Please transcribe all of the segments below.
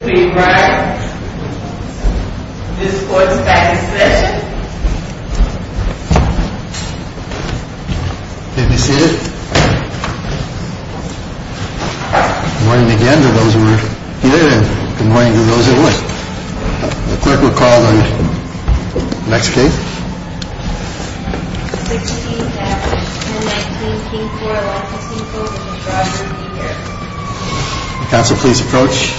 Please rise. This court is back in session. Please be seated. Good morning again to those who were here and good morning to those who weren't. The clerk will call the next case. 16-010-19 King Koil Licensing Co. v. Harris Counsel, please approach.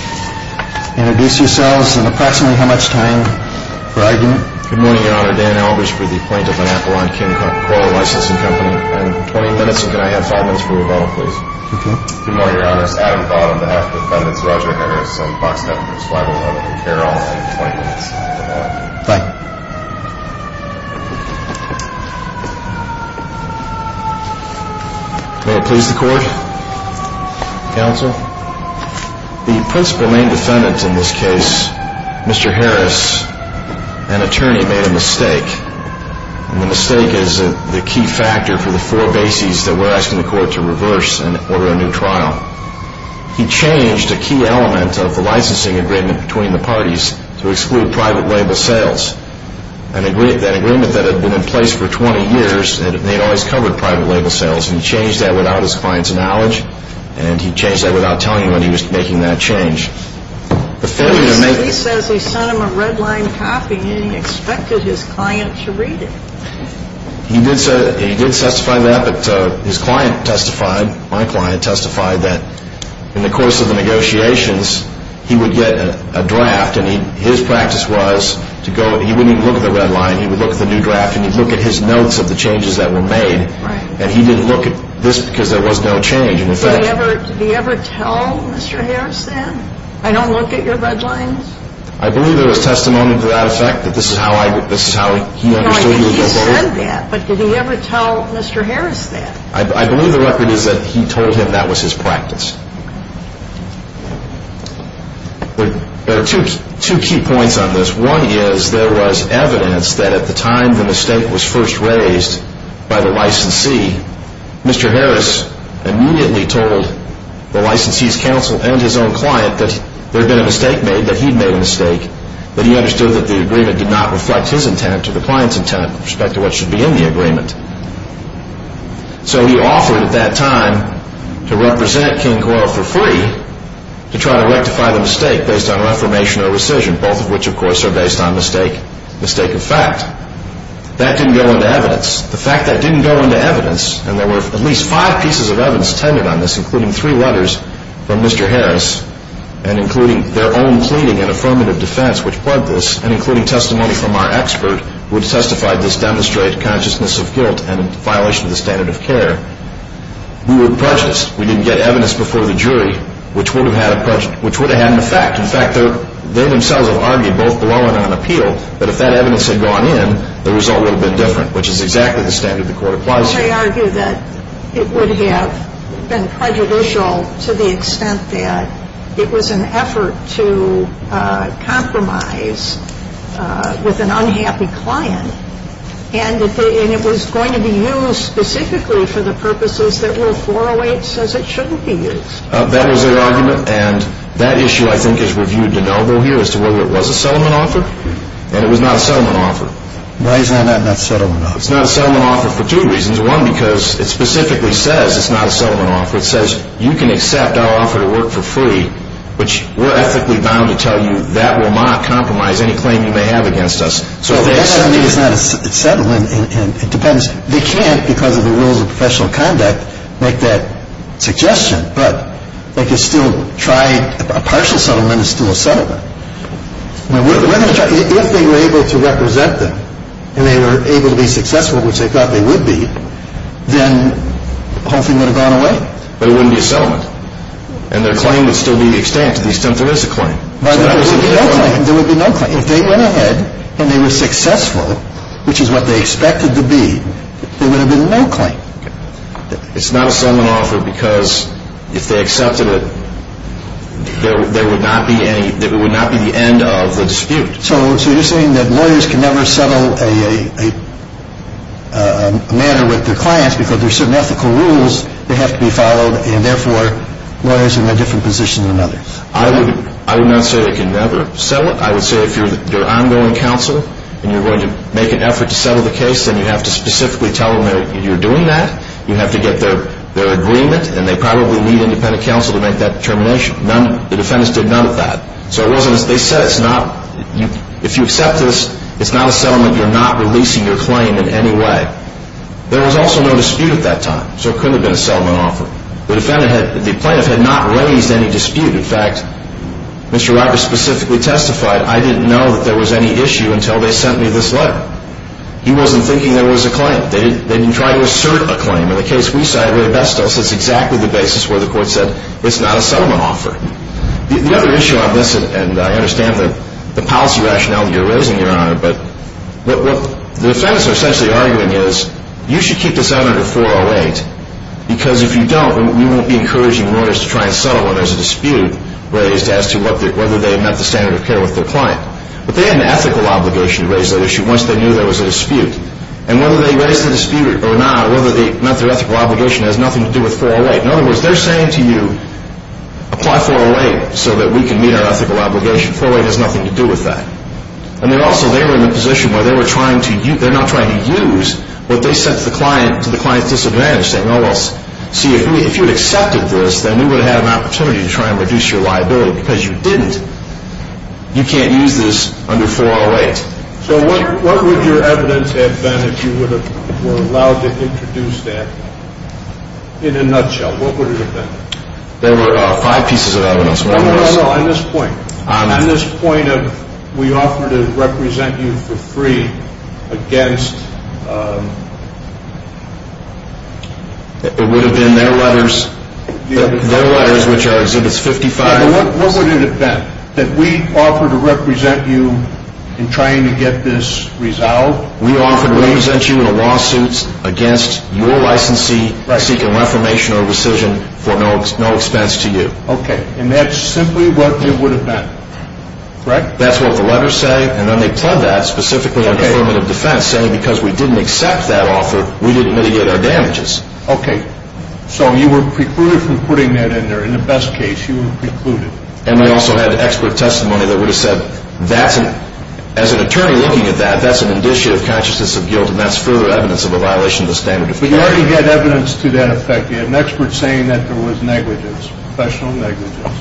Introduce yourselves and approximately how much time for argument. Good morning, Your Honor. Dan Albers for the Appointment of an Appellant, King Koil Licensing Co. I have 20 minutes and can I have 5 minutes for rebuttal, please? Okay. Good morning, Your Honor. It's Adam Thott on behalf of the defendants. Roger. I have some boxed evidence. 5-011-Karol. I have 20 minutes for that. Thank you. May it please the court. Counsel, the principal main defendant in this case, Mr. Harris, an attorney, made a mistake. And the mistake is the key factor for the four bases that we're asking the court to reverse and order a new trial. He changed a key element of the licensing agreement between the parties to exclude private label sales. That agreement that had been in place for 20 years, they'd always covered private label sales, and he changed that without his client's knowledge, and he changed that without telling him when he was making that change. He says he sent him a red-lined copy and he expected his client to read it. He did testify to that, but his client testified, my client testified, that in the course of the negotiations, he would get a draft, and his practice was to go, he wouldn't even look at the red line, he would look at the new draft, and he'd look at his notes of the changes that were made, and he didn't look at this because there was no change in effect. Did he ever tell Mr. Harris that? I don't look at your red lines? I believe there was testimony to that effect, that this is how he understood you were going to do it. He said that, but did he ever tell Mr. Harris that? I believe the record is that he told him that was his practice. There are two key points on this. One is there was evidence that at the time the mistake was first raised by the licensee, Mr. Harris immediately told the licensee's counsel and his own client that there had been a mistake made, that he'd made a mistake, that he understood that the agreement did not reflect his intent or the client's intent with respect to what should be in the agreement. So he offered at that time to represent King Coyle for free to try to rectify the mistake based on reformation or rescission, both of which, of course, are based on mistake of fact. That didn't go into evidence. The fact that didn't go into evidence, and there were at least five pieces of evidence tended on this, including three letters from Mr. Harris, and including their own pleading and affirmative defense, which plugged this, and including testimony from our expert, who had testified this demonstrated consciousness of guilt and violation of the standard of care. We were prejudiced. We didn't get evidence before the jury, which would have had an effect. In fact, they themselves have argued, both below and on appeal, that if that evidence had gone in, the result would have been different, which is exactly the standard the court applies to. Well, they argue that it would have been prejudicial to the extent that it was an effort to compromise with an unhappy client, and it was going to be used specifically for the purposes that Rule 408 says it shouldn't be used. That was their argument, and that issue, I think, is reviewed de novo here as to whether it was a settlement offer, and it was not a settlement offer. Why is that not a settlement offer? It's not a settlement offer for two reasons. One, because it specifically says it's not a settlement offer. It says you can accept our offer to work for free, which we're ethically bound to tell you that will not compromise any claim you may have against us. So if they accept it... Well, that doesn't mean it's not a settlement. It depends. They can't, because of the rules of professional conduct, make that suggestion, but they could still try a partial settlement is still a settlement. If they were able to represent them and they were able to be successful, which they thought they would be, then the whole thing would have gone away. But it wouldn't be a settlement, and their claim would still be the extent to the extent there is a claim. But there would be no claim. There would be no claim. If they went ahead and they were successful, which is what they expected to be, there would have been no claim. It's not a settlement offer because if they accepted it, there would not be the end of the dispute. So you're saying that lawyers can never settle a matter with their clients because there are certain ethical rules that have to be followed, and therefore lawyers are in a different position than others. I would not say they can never settle it. I would say if you're ongoing counsel and you're going to make an effort to settle the case, then you have to specifically tell them that you're doing that. You have to get their agreement, and they probably need independent counsel to make that determination. The defendants did none of that. So they said if you accept this, it's not a settlement. You're not releasing your claim in any way. There was also no dispute at that time, so it couldn't have been a settlement offer. The plaintiff had not raised any dispute. In fact, Mr. Roberts specifically testified, I didn't know that there was any issue until they sent me this letter. They didn't try to assert a claim. In the case we cite, Ray Bestel says it's exactly the basis where the court said it's not a settlement offer. The other issue on this, and I understand the policy rationale that you're raising, Your Honor, but what the defendants are essentially arguing is you should keep this under 408 because if you don't, we won't be encouraging lawyers to try and settle when there's a dispute raised as to whether they met the standard of care with their client. But they had an ethical obligation to raise that issue once they knew there was a dispute. And whether they raised the dispute or not, whether they met their ethical obligation has nothing to do with 408. In other words, they're saying to you, apply 408 so that we can meet our ethical obligation. 408 has nothing to do with that. And then also, they were in the position where they were trying to use, they're not trying to use what they sent to the client to the client's disadvantage, saying, well, see, if you had accepted this, then we would have had an opportunity to try and reduce your liability. Because you didn't, you can't use this under 408. So what would your evidence have been if you were allowed to introduce that? In a nutshell, what would it have been? There were five pieces of evidence. No, no, no, no. On this point, on this point of we offered to represent you for free against It would have been their letters. Their letters, which are exhibits 55. What would it have been, that we offered to represent you in trying to get this resolved? We offered to represent you in a lawsuit against your licensee seeking reformation or rescission for no expense to you. Okay. And that's simply what it would have been. Correct? That's what the letters say. And then they plug that, specifically on affirmative defense, saying because we didn't accept that offer, we didn't mitigate our damages. Okay. So you were precluded from putting that in there. In the best case, you were precluded. And we also had expert testimony that would have said, as an attorney looking at that, that's an initiative consciousness of guilt, and that's further evidence of a violation of the standard of defense. But you already had evidence to that effect. You had an expert saying that there was negligence, professional negligence.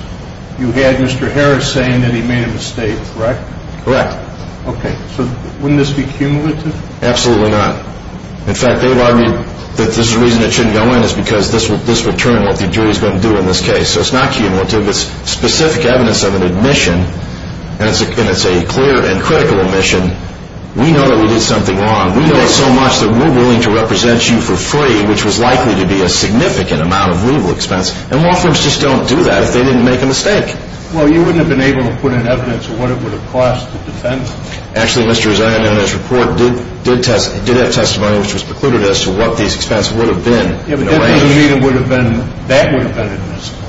You had Mr. Harris saying that he made a mistake, correct? Correct. Okay. So wouldn't this be cumulative? Absolutely not. In fact, they would argue that the reason it shouldn't go in is because this would determine what the jury is going to do in this case. So it's not cumulative. It's specific evidence of an admission, and it's a clear and critical admission. We know that we did something wrong. We know so much that we're willing to represent you for free, which was likely to be a significant amount of legal expense. And law firms just don't do that if they didn't make a mistake. Well, you wouldn't have been able to put in evidence of what it would have cost the defense. Actually, Mr. Rezaian, in his report, did have testimony which was precluded as to what these expenses would have been. That would have been admissible.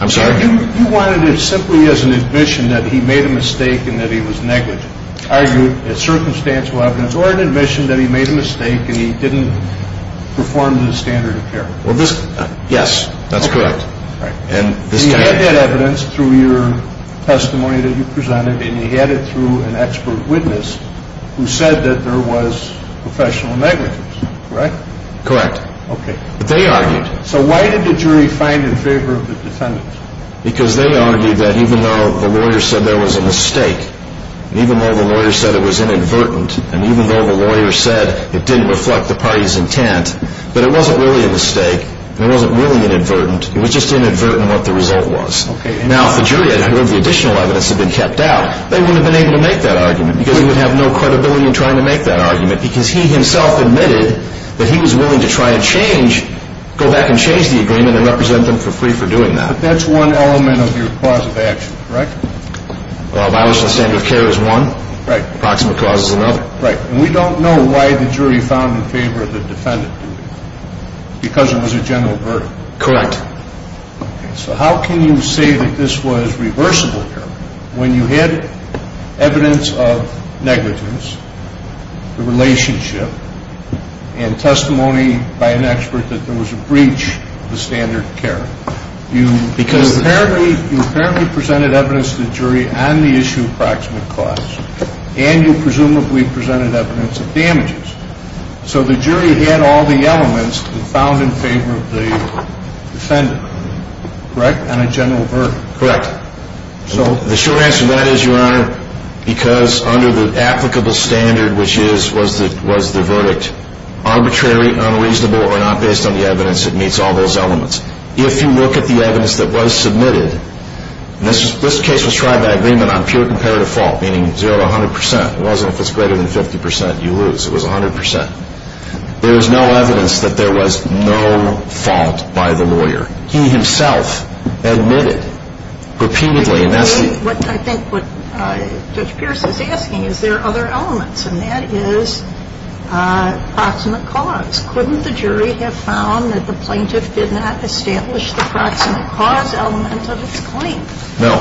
I'm sorry? You wanted it simply as an admission that he made a mistake and that he was negligent, argued as circumstantial evidence, or an admission that he made a mistake and he didn't perform to the standard of care. Well, yes, that's correct. Okay. So you had that evidence through your testimony that you presented, and you had it through an expert witness who said that there was professional negligence, correct? Correct. Okay. But they argued. So why did the jury find in favor of the defendant? Because they argued that even though the lawyer said there was a mistake, even though the lawyer said it was inadvertent, and even though the lawyer said it didn't reflect the party's intent, that it wasn't really a mistake and it wasn't really inadvertent. It was just inadvertent what the result was. Okay. Now, if the jury had heard the additional evidence had been kept out, they wouldn't have been able to make that argument because he would have no credibility in trying to make that argument because he himself admitted that he was willing to try to change, go back and change the agreement and represent them for free for doing that. But that's one element of your cause of action, correct? Well, by which the standard of care is one. Right. Approximate cause is another. Right. And we don't know why the jury found in favor of the defendant, because it was a general verdict. Correct. Okay. So how can you say that this was reversible here? When you had evidence of negligence, the relationship, and testimony by an expert that there was a breach of the standard of care, you apparently presented evidence to the jury on the issue of approximate cause, and you presumably presented evidence of damages. So the jury had all the elements that found in favor of the defendant, correct, on a general verdict. Correct. So the short answer to that is, Your Honor, because under the applicable standard, which is was the verdict arbitrary, unreasonable, or not based on the evidence that meets all those elements, if you look at the evidence that was submitted, and this case was tried by agreement on pure comparative fault, meaning 0 to 100%. It wasn't if it's greater than 50% you lose. It was 100%. There was no evidence that there was no fault by the lawyer. He himself admitted repeatedly. I think what Judge Pierce is asking, is there other elements, and that is approximate cause. Couldn't the jury have found that the plaintiff did not establish the approximate cause element of its claim? No.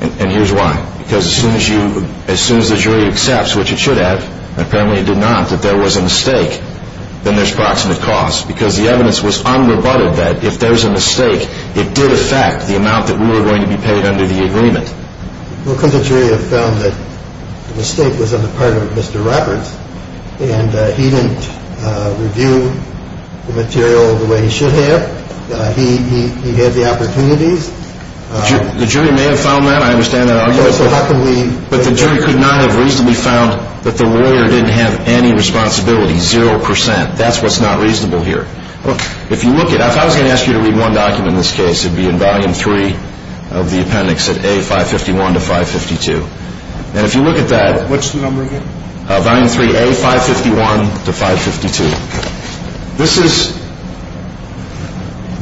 And here's why. Because as soon as the jury accepts, which it should have, and apparently it did not, that there was a mistake, then there's approximate cause. Because the evidence was unrebutted that if there's a mistake, it did affect the amount that we were going to be paid under the agreement. Well, couldn't the jury have found that the mistake was on the part of Mr. Roberts, and he didn't review the material the way he should have? He had the opportunities. The jury may have found that. I understand that argument. So how can we... But the jury could not have reasonably found that the lawyer didn't have any responsibility, 0%. And that's what's not reasonable here. If you look at it, if I was going to ask you to read one document in this case, it would be in volume three of the appendix at A551 to 552. And if you look at that... What's the number again? Volume three, A551 to 552. This is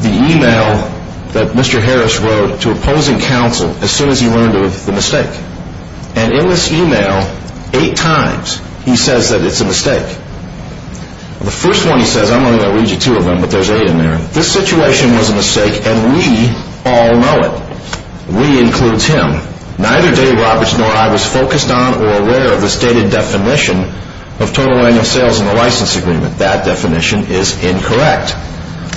the email that Mr. Harris wrote to opposing counsel as soon as he learned of the mistake. And in this email, eight times, he says that it's a mistake. The first one he says, I'm only going to read you two of them, but there's eight in there. This situation was a mistake, and we all know it. We includes him. Neither Dave Roberts nor I was focused on or aware of the stated definition of total annual sales in the license agreement. That definition is incorrect.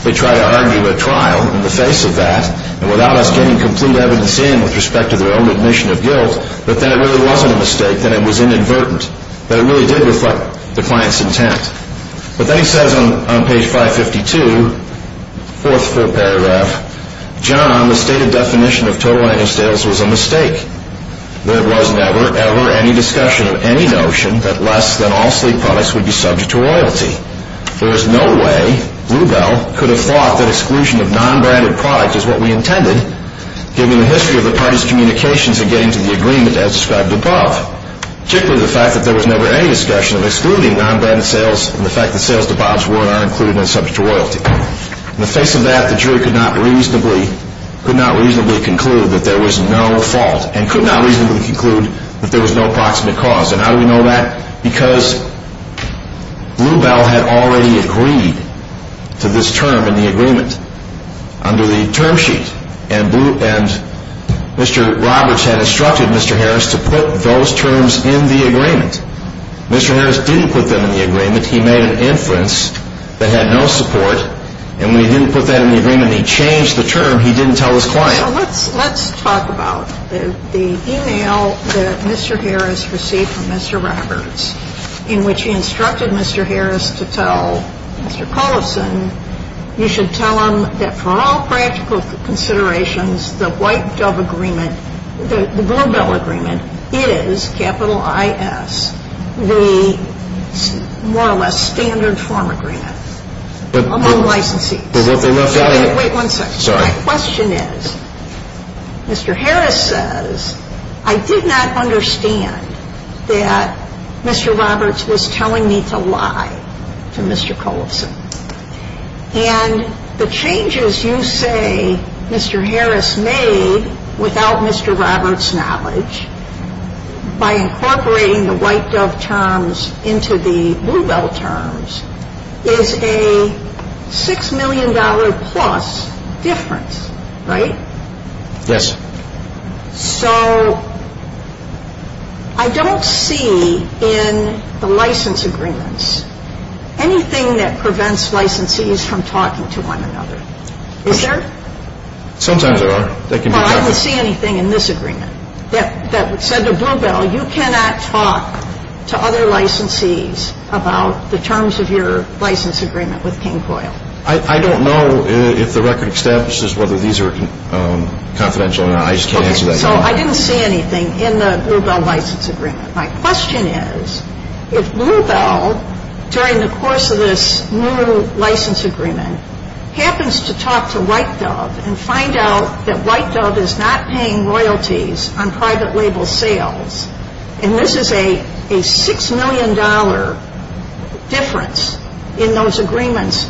They try to argue a trial in the face of that, and without us getting complete evidence in with respect to their own admission of guilt, that that really wasn't a mistake, that it was inadvertent, that it really did reflect the client's intent. But then he says on page 552, fourth full paragraph, John, the stated definition of total annual sales was a mistake. There was never, ever any discussion of any notion that less than all sleep products would be subject to royalty. There is no way Bluebell could have thought that exclusion of non-branded products is what we intended, given the history of the parties' communications in getting to the agreement as described above, particularly the fact that there was never any discussion of excluding non-branded sales and the fact that sales to Bob's Ward are included and subject to royalty. In the face of that, the jury could not reasonably conclude that there was no fault and could not reasonably conclude that there was no proximate cause. And how do we know that? Because Bluebell had already agreed to this term in the agreement. Under the term sheet. And Mr. Roberts had instructed Mr. Harris to put those terms in the agreement. Mr. Harris didn't put them in the agreement. He made an inference that had no support. And when he didn't put that in the agreement, he changed the term. He didn't tell his client. So let's talk about the email that Mr. Harris received from Mr. Roberts in which he instructed Mr. Harris to tell Mr. Collison, you should tell them that for all practical considerations, the White Dove Agreement, the Bluebell Agreement, is, capital I-S, the more or less standard form agreement among licensees. But what they left out of it — Wait one second. Sorry. My question is, Mr. Harris says, I did not understand that Mr. Roberts was telling me to lie to Mr. Collison. And the changes you say Mr. Harris made without Mr. Roberts' knowledge, by incorporating the White Dove terms into the Bluebell terms, is a $6 million-plus difference, right? Yes. So I don't see in the license agreements anything that prevents licensees from talking to one another. Is there? Sometimes there are. Well, I don't see anything in this agreement that said to Bluebell, you cannot talk to other licensees about the terms of your license agreement with King Coyle. I don't know if the record establishes whether these are confidential or not. I just can't answer that question. Okay. So I didn't see anything in the Bluebell license agreement. My question is, if Bluebell, during the course of this new license agreement, happens to talk to White Dove and find out that White Dove is not paying royalties on private label sales, and this is a $6 million difference in those agreements,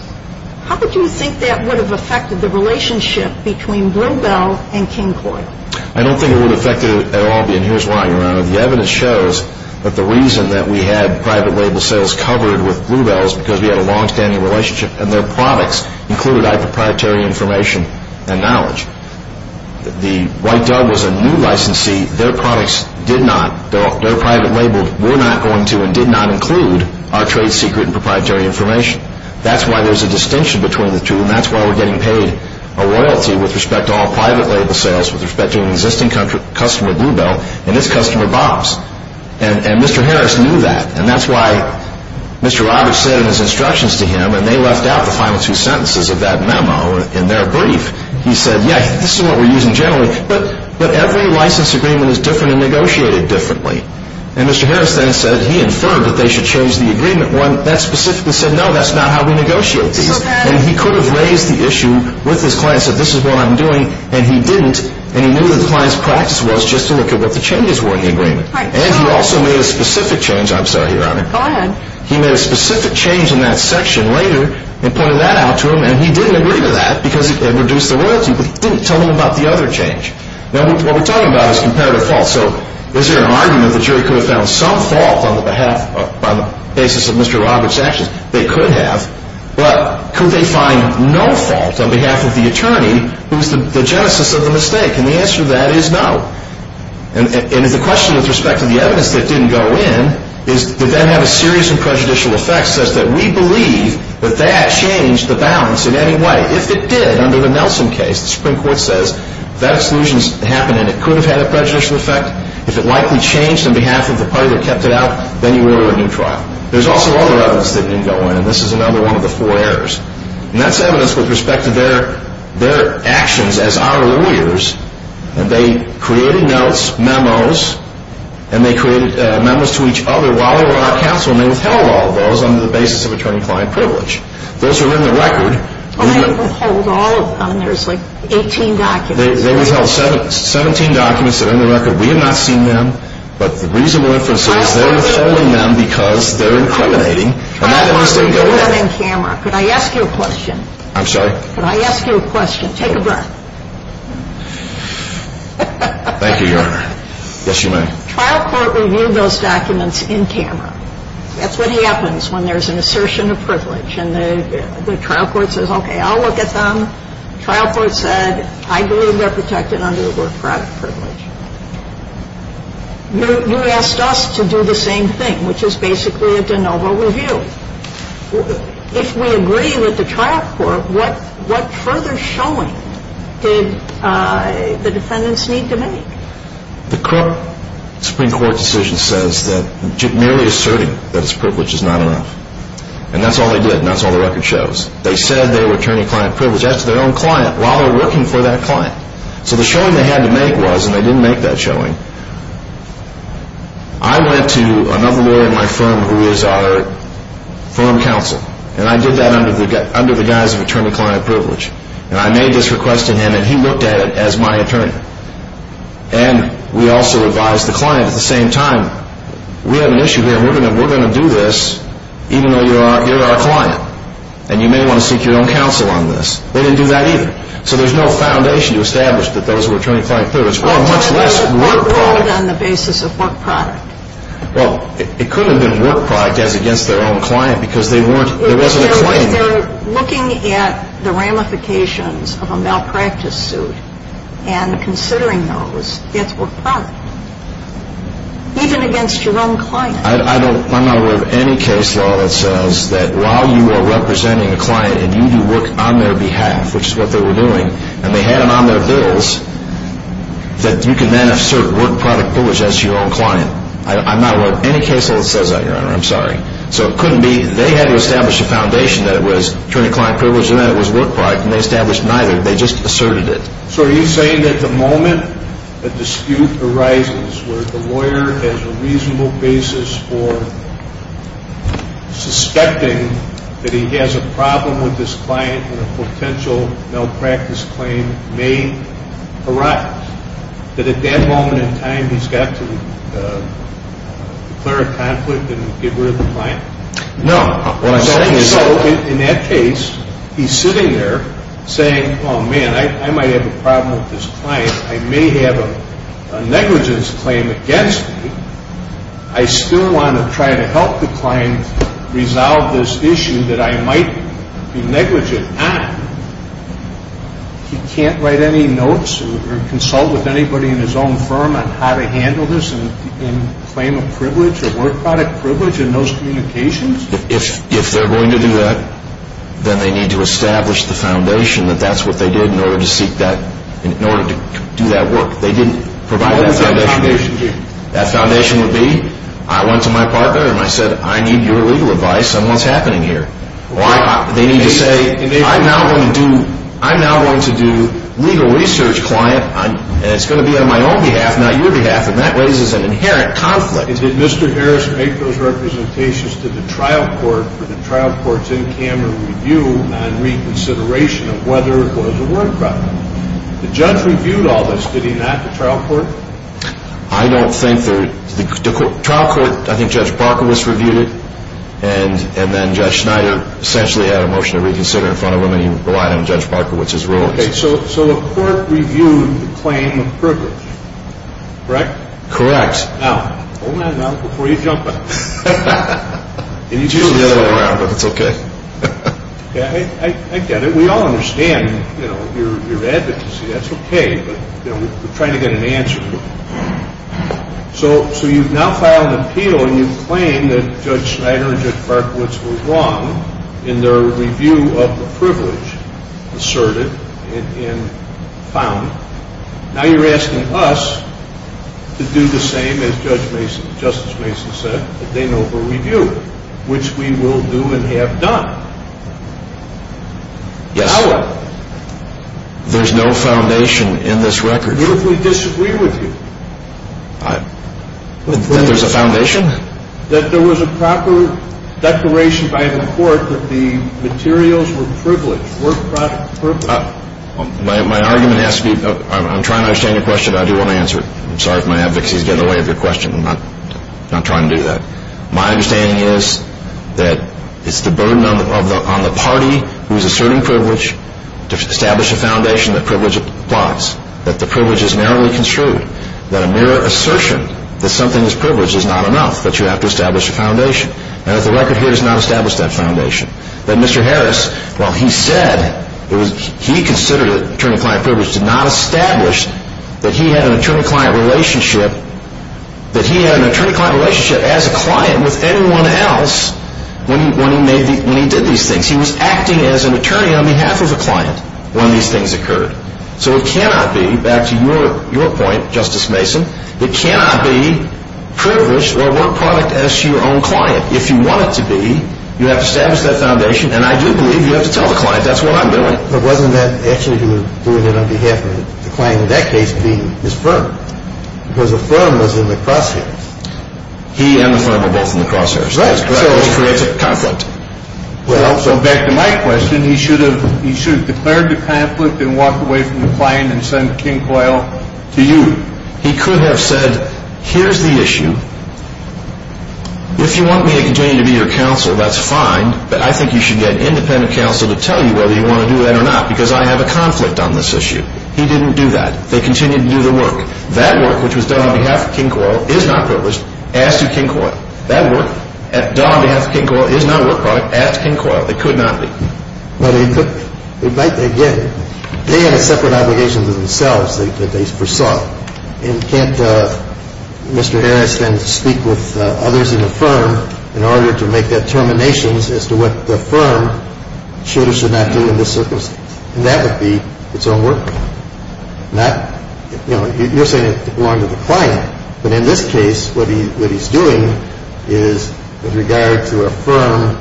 how would you think that would have affected the relationship between Bluebell and King Coyle? I don't think it would affect it at all. And here's why, Your Honor. The evidence shows that the reason that we had private label sales covered with Bluebell was because we had a longstanding relationship and their products included our proprietary information and knowledge. The White Dove was a new licensee. Their products did not, their private label were not going to and did not include our trade secret and proprietary information. That's why there's a distinction between the two, and that's why we're getting paid a royalty with respect to all private label sales, with respect to an existing customer, Bluebell, and this customer, Bob's. And Mr. Harris knew that. And that's why Mr. Roberts said in his instructions to him, and they left out the final two sentences of that memo in their brief, he said, yeah, this is what we're using generally, but every license agreement is different and negotiated differently. And Mr. Harris then said, he inferred that they should change the agreement. That specifically said, no, that's not how we negotiate. And he could have raised the issue with his client and said, this is what I'm doing, and he didn't, and he knew that the client's practice was just to look at what the changes were in the agreement. And he also made a specific change. I'm sorry, Your Honor. Go ahead. He made a specific change in that section later and pointed that out to him, and he didn't agree to that because it reduced the royalty, but he didn't tell him about the other change. Now, what we're talking about is comparative fault. So is there an argument that the jury could have found some fault on the basis of Mr. Roberts' actions? They could have. But could they find no fault on behalf of the attorney who's the genesis of the mistake? And the answer to that is no. And the question with respect to the evidence that didn't go in is, did that have a serious and prejudicial effect such that we believe that that changed the balance in any way? If it did, under the Nelson case, the Supreme Court says that exclusion happened and it could have had a prejudicial effect. If it likely changed on behalf of the party that kept it out, then you order a new trial. There's also other evidence that didn't go in, and this is another one of the four errors. And that's evidence with respect to their actions as our lawyers and they created notes, memos, and they created memos to each other while they were on our counsel and they withheld all of those on the basis of attorney-client privilege. Those are in the record. Well, they didn't withhold all of them. There's like 18 documents. They withheld 17 documents that are in the record. We have not seen them, but the reason we're interested is they're withholding them because they're incriminating. I don't want to do that on camera. I'm sorry? Could I ask you a question? Take a breath. Thank you, Your Honor. Yes, you may. Trial court reviewed those documents in camera. That's what happens when there's an assertion of privilege and the trial court says, okay, I'll look at them. Trial court said, I believe they're protected under the work product privilege. You asked us to do the same thing, which is basically a de novo review. If we agree with the trial court, what further showing did the defendants need to make? The Supreme Court decision says that merely asserting that it's privileged is not enough. And that's all they did and that's all the record shows. They said they were attorney-client privileged. That's their own client while they're working for that client. So the showing they had to make was, and they didn't make that showing, I went to another lawyer in my firm who is our firm counsel, and I did that under the guise of attorney-client privilege. And I made this request to him and he looked at it as my attorney. And we also advised the client at the same time, we have an issue here and we're going to do this even though you're our client and you may want to seek your own counsel on this. They didn't do that either. So there's no foundation to establish that those were attorney-client privileged. Well, it could have been a work product on the basis of work product. Well, it could have been work product as against their own client because there wasn't a claim. If they're looking at the ramifications of a malpractice suit and considering those, it's work product, even against your own client. I'm not aware of any case law that says that while you are representing a client and you do work on their behalf, which is what they were doing, and they had it on their bills that you can then assert work product privilege as your own client. I'm not aware of any case law that says that, Your Honor. I'm sorry. So it couldn't be. They had to establish a foundation that it was attorney-client privilege and that it was work product, and they established neither. They just asserted it. So are you saying that the moment a dispute arises where the lawyer has a reasonable basis for suspecting that he has a problem with this client and a potential malpractice claim may arise, that at that moment in time, he's got to declare a conflict and get rid of the client? No. So in that case, he's sitting there saying, Oh, man, I might have a problem with this client. I may have a negligence claim against me. I still want to try to help the client resolve this issue that I might be negligent on. He can't write any notes or consult with anybody in his own firm on how to handle this in claim of privilege or work product privilege in those communications? If they're going to do that, then they need to establish the foundation that that's what they did in order to seek that, in order to do that work. They didn't provide that foundation. That foundation would be, I went to my partner and I said, I need your legal advice on what's happening here. They need to say, I'm now going to do legal research client, and it's going to be on my own behalf, not your behalf, and that raises an inherent conflict. Did Mr. Harris make those representations to the trial court for the trial court's in-camera review and reconsideration of whether it was a work product? The judge reviewed all this. Did he not, the trial court? I don't think there, the trial court, I think Judge Barkowitz reviewed it, and then Judge Schneider essentially had a motion to reconsider in front of him, and he relied on Judge Barkowitz's ruling. Okay, so the court reviewed the claim of privilege, correct? Correct. Now, hold that note before you jump in. It's usually the other way around, but it's okay. I get it. We all understand, you know, your advocacy. That's okay, but, you know, we're trying to get an answer to it. So you've now filed an appeal, and you claim that Judge Schneider and Judge Barkowitz were wrong in their review of the privilege asserted and found. Now you're asking us to do the same, as Justice Mason said, that they know will review, which we will do and have done. Yes. So what? There's no foundation in this record. What if we disagree with you? That there's a foundation? That there was a proper declaration by the court that the materials were privileged, were private. My argument has to be, I'm trying to understand your question, but I do want to answer it. I'm sorry if my advocacy is getting in the way of your question. I'm not trying to do that. My understanding is that it's the burden on the party who is asserting privilege to establish a foundation that privilege applies. That the privilege is narrowly construed. That a mere assertion that something is privileged is not enough. That you have to establish a foundation. And that the record here does not establish that foundation. That Mr. Harris, while he said, he considered it attorney-client privilege, did not establish that he had an attorney-client relationship as a client with anyone else when he did these things. He was acting as an attorney on behalf of a client when these things occurred. So it cannot be, back to your point, Justice Mason, it cannot be privileged or work product as your own client. If you want it to be, you have to establish that foundation. And I do believe you have to tell the client that's what I'm doing. But wasn't that actually doing it on behalf of the client in that case being his firm? Because the firm was in the crosshairs. He and the firm were both in the crosshairs. That's correct. Which creates a conflict. Well, so back to my question, he should have declared the conflict and walked away from the client and sent King Coyle to you. He could have said, here's the issue. If you want me to continue to be your counsel, that's fine. But I think you should get an independent counsel to tell you whether you want to do that or not because I have a conflict on this issue. He didn't do that. They continued to do their work. That work, which was done on behalf of King Coyle, is not privileged as to King Coyle. That work done on behalf of King Coyle is not work product as to King Coyle. It could not be. But again, they have separate obligations to themselves that they foresaw. And can't Mr. Harris then speak with others in the firm in order to make determinations as to what the firm should or should not do in this circumstance? And that would be its own work. Not, you know, you're saying it belonged to the client. But in this case, what he's doing is with regard to a firm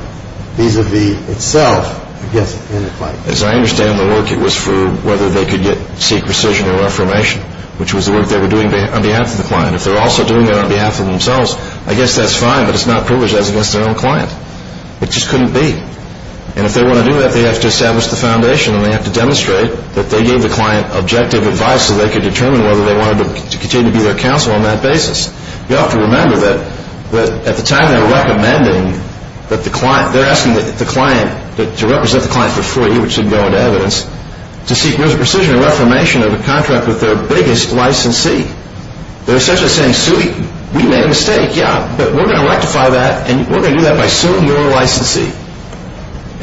vis-à-vis itself, I guess, and the client. As I understand the work, it was for whether they could seek rescission or reformation, which was the work they were doing on behalf of the client. If they're also doing it on behalf of themselves, I guess that's fine, but it's not privileged as against their own client. It just couldn't be. And if they want to do that, they have to establish the foundation and they have to demonstrate that they gave the client objective advice so they could determine whether they wanted to continue to be their counsel on that basis. You have to remember that at the time they were recommending that the client to represent the client for free, which didn't go into evidence, to seek rescission or reformation of a contract with their biggest licensee. They're essentially saying, Suey, we made a mistake, yeah, but we're going to rectify that and we're going to do that by suing your licensee.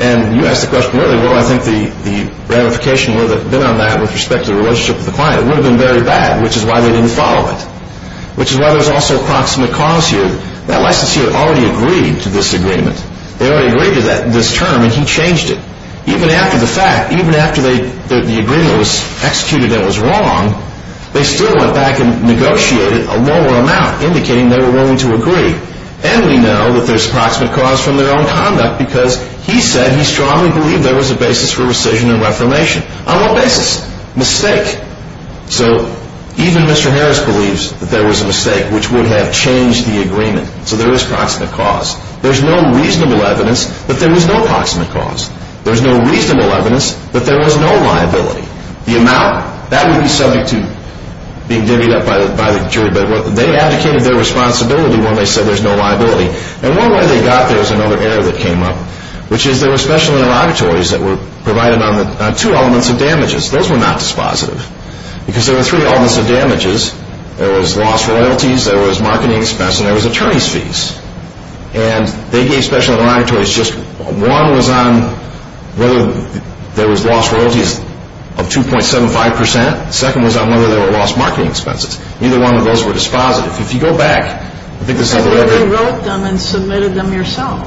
And you asked the question earlier, well, I think the ramification would have been on that with respect to the relationship with the client. It would have been very bad, which is why they didn't follow it, which is why there's also a proximate cause here. That licensee had already agreed to this agreement. They already agreed to this term and he changed it. Even after the fact, even after the agreement was executed and was wrong, they still went back and negotiated a lower amount, indicating they were willing to agree. And we know that there's proximate cause from their own conduct because he said he strongly believed there was a basis for rescission and reformation. On what basis? Mistake. So even Mr. Harris believes that there was a mistake, which would have changed the agreement. So there is proximate cause. There's no reasonable evidence that there was no proximate cause. There's no reasonable evidence that there was no liability. The amount, that would be subject to being divvied up by the jury. But they advocated their responsibility when they said there's no liability. And one way they got there was another error that came up, which is there were special interrogatories that were provided on two elements of damages. Those were not dispositive. Because there were three elements of damages. There was lost royalties, there was marketing expense, and there was attorney's fees. And they gave special interrogatories just one was on whether there was lost royalties of 2.75 percent. The second was on whether there were lost marketing expenses. Neither one of those were dispositive. If you go back, I think this is on the record. You wrote them and submitted them yourself.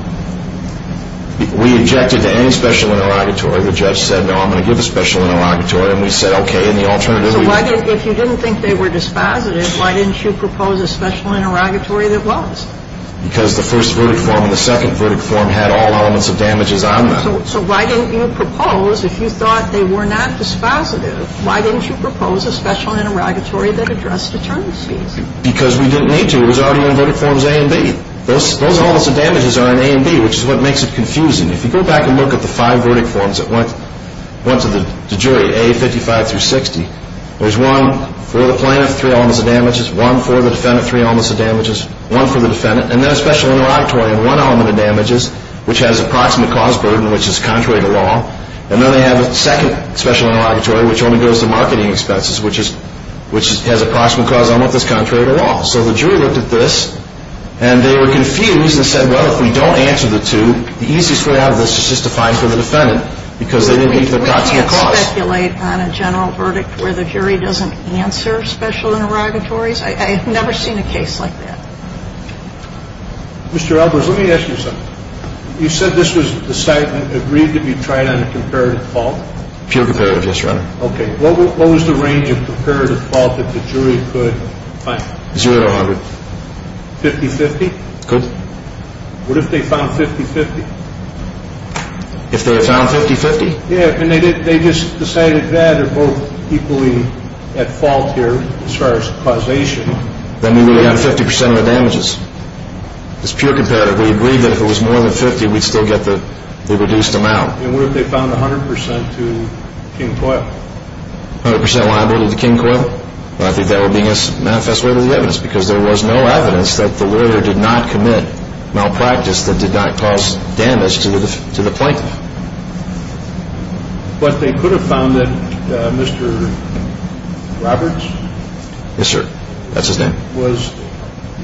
We objected to any special interrogatory. The judge said, no, I'm going to give a special interrogatory. And we said, okay, in the alternative. So if you didn't think they were dispositive, why didn't you propose a special interrogatory that was? Because the first verdict form and the second verdict form had all elements of damages on them. So why didn't you propose, if you thought they were not dispositive, why didn't you propose a special interrogatory that addressed attorney's fees? Because we didn't need to. It was already on verdict forms A and B. Those elements of damages are in A and B, which is what makes it confusing. If you go back and look at the five verdict forms that went to the jury, A, 55 through 60, there's one for the plaintiff, three elements of damages, one for the defendant, three elements of damages, one for the defendant, and then a special interrogatory on one element of damages, which has approximate cause burden, which is contrary to law. And then they have a second special interrogatory, which only goes to marketing expenses, which has approximate cause element that's contrary to law. So the jury looked at this, and they were confused and said, well, if we don't answer the two, the easiest way out of this is just to find for the defendant, because they didn't need to have got to the cause. So we can't speculate on a general verdict where the jury doesn't answer special interrogatories? I've never seen a case like that. Mr. Albers, let me ask you something. You said this was decided and agreed to be tried on a comparative fault? Pure comparative, yes, Your Honor. Okay. What was the range of comparative fault that the jury could find? Zero to 100. 50-50? Good. What if they found 50-50? If they had found 50-50? Yeah, and they just decided that they're both equally at fault here as far as causation. That means we have 50% of the damages. It's pure comparative. We agreed that if it was more than 50, we'd still get the reduced amount. And what if they found 100% to King-Coyle? 100% liable to King-Coyle? I think that would be against the manifest way of the evidence because there was no evidence that the lawyer did not commit malpractice that did not cause damage to the plaintiff. But they could have found that Mr. Roberts? Yes, sir. That's his name. Was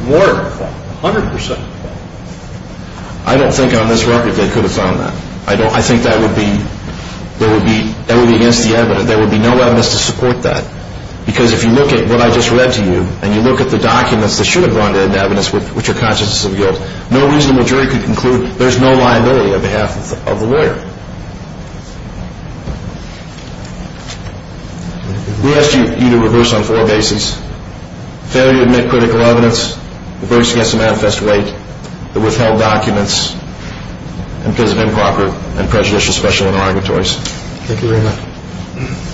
more at fault, 100% at fault. I don't think on this record they could have found that. I think that would be against the evidence. There would be no evidence to support that. Because if you look at what I just read to you, and you look at the documents that should have gone into evidence which are consciences of guilt, no reasonable jury could conclude there's no liability on behalf of the lawyer. We asked you to reverse on four bases. Failure to admit critical evidence, reverse against the manifest way, the withheld documents, and because of improper and prejudicial special interrogatories. Thank you very much. Thank you.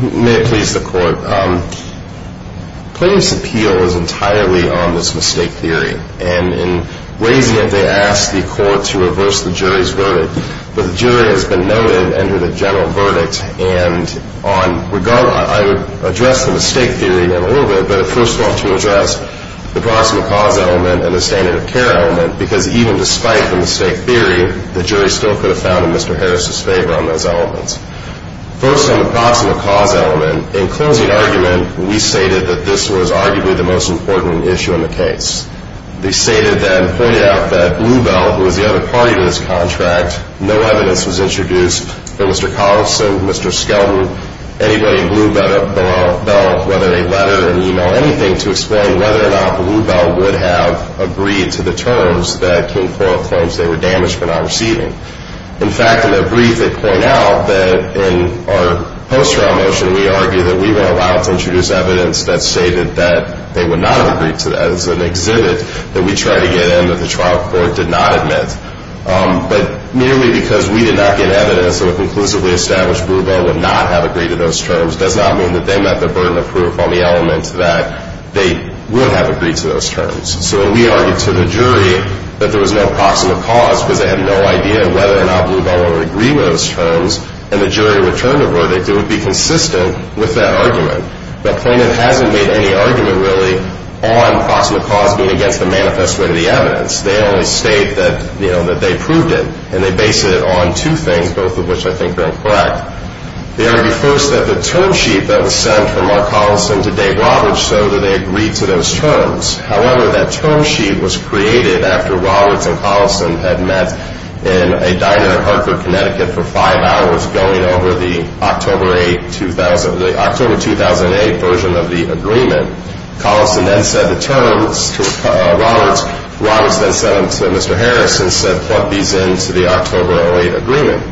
May it please the court. Plaintiff's appeal is entirely on this mistake theory. And in raising it, they asked the court to reverse the jury's verdict. But the jury has been noted under the general verdict. And I would address the mistake theory in a little bit. But first I want to address the proximate cause element and the standard of care element. Because even despite the mistake theory, the jury still could have found in Mr. Harris' favor on those elements. First on the proximate cause element, In closing argument, we stated that this was arguably the most important issue in the case. They stated then, pointed out that Bluebell, who was the other party to this contract, no evidence was introduced for Mr. Carlson, Mr. Skelton, anybody in Bluebell, whether a letter, an email, anything to explain whether or not Bluebell would have agreed to the terms that King-Foyle claims they were damaged for not receiving. In fact, in their brief, they point out that in our post-trial motion, we argue that we were allowed to introduce evidence that stated that they would not have agreed to that. It's an exhibit that we try to get in that the trial court did not admit. But merely because we did not get evidence that a conclusively established Bluebell would not have agreed to those terms does not mean that they met the burden of proof on the element that they would have agreed to those terms. So when we argued to the jury that there was no proximate cause, because they had no idea whether or not Bluebell would agree to those terms, and the jury returned a verdict, it would be consistent with that argument. But Clayton hasn't made any argument really on proximate cause being against the manifest way of the evidence. They only state that, you know, that they proved it. And they base it on two things, both of which I think are incorrect. They argue first that the term sheet that was sent from Mark Carlson to Dave Roberts showed that they agreed to those terms. However, that term sheet was created after Roberts and Carlson had met in a diner in Hartford, Connecticut, for five hours going over the October 2008 version of the agreement. Carlson then said the terms to Roberts. Roberts then sent them to Mr. Harris and said plug these into the October 2008 agreement.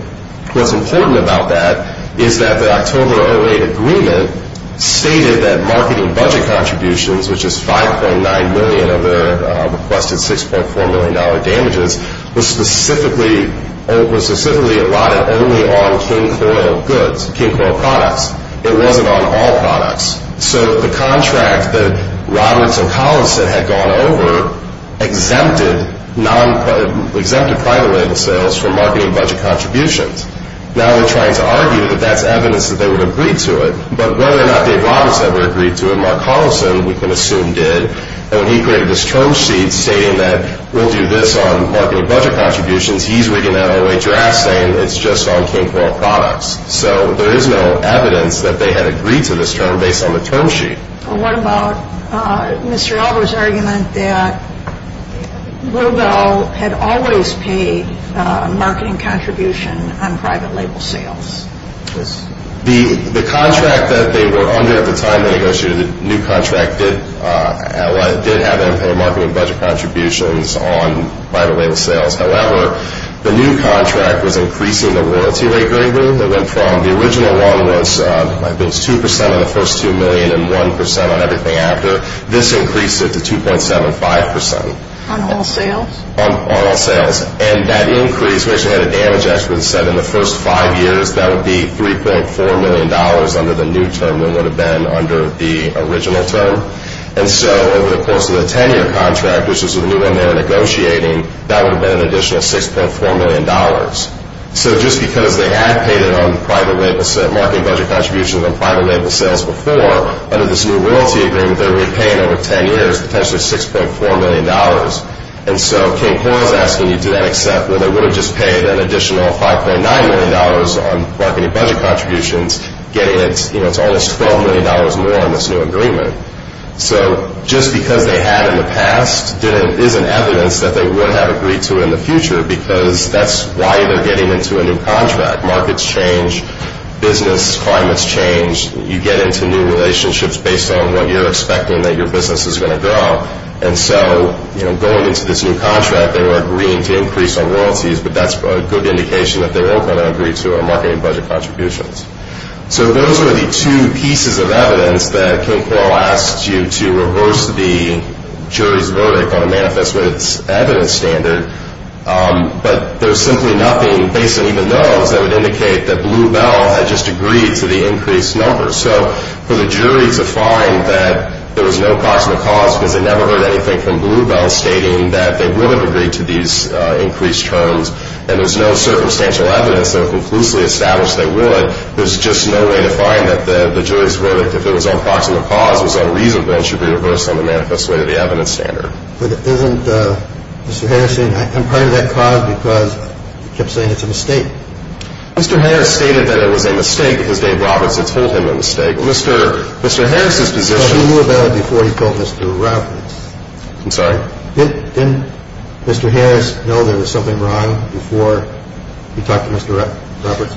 What's important about that is that the October 2008 agreement stated that marketing budget contributions, which is $5.9 million of the requested $6.4 million damages, was specifically allotted only on King Coyle goods, King Coyle products. It wasn't on all products. So the contract that Roberts and Carlson had gone over exempted private label sales from marketing budget contributions. Now they're trying to argue that that's evidence that they would agree to it. But whether or not Dave Roberts ever agreed to it, Mark Carlson, we can assume, did. And when he created this term sheet stating that we'll do this on marketing budget contributions, he's rigging that all the way to your ass saying it's just on King Coyle products. So there is no evidence that they had agreed to this term based on the term sheet. Well, what about Mr. Alvaro's argument that Lobel had always paid marketing contribution on private label sales? The contract that they were under at the time they negotiated the new contract did have them pay marketing budget contributions on private label sales. However, the new contract was increasing the warranty rate greatly. The original one was 2% on the first $2 million and 1% on everything after. This increased it to 2.75%. On all sales? On all sales. And that increase, we actually had a damage expert that said in the first five years that would be $3.4 million under the new term than it would have been under the original term. And so over the course of the 10-year contract, which was the new one they were negotiating, that would have been an additional $6.4 million. So just because they had paid marketing budget contributions on private label sales before, under this new royalty agreement they're going to be paying over 10 years potentially $6.4 million. And so King Coyle is asking you to then accept, well, they would have just paid an additional $5.9 million on marketing budget contributions, getting it to almost $12 million more in this new agreement. So just because they had in the past is an evidence that they would have agreed to it in the future because that's why they're getting into a new contract. Markets change. Business climates change. You get into new relationships based on what you're expecting that your business is going to grow. And so going into this new contract, they were agreeing to increase on royalties, but that's a good indication that they were going to agree to our marketing budget contributions. So those are the two pieces of evidence that King Coyle asks you to reverse the jury's verdict on the manifest way to the evidence standard. But there's simply nothing, basically even those, that would indicate that Blue Bell had just agreed to the increased numbers. So for the jury to find that there was no proximate cause because they never heard anything from Blue Bell stating that they would have agreed to these increased terms and there's no circumstantial evidence that would conclusively establish they would, there's just no way to find that the jury's verdict, if it was on proximate cause, was unreasonable then it should be reversed on the manifest way to the evidence standard. But isn't Mr. Harrison, I'm part of that cause because you kept saying it's a mistake. Mr. Harris stated that it was a mistake because Dave Roberts had told him a mistake. Mr. Harris's position. So Blue Bell before he told Mr. Roberts. I'm sorry? Didn't Mr. Harris know there was something wrong before he talked to Mr. Roberts?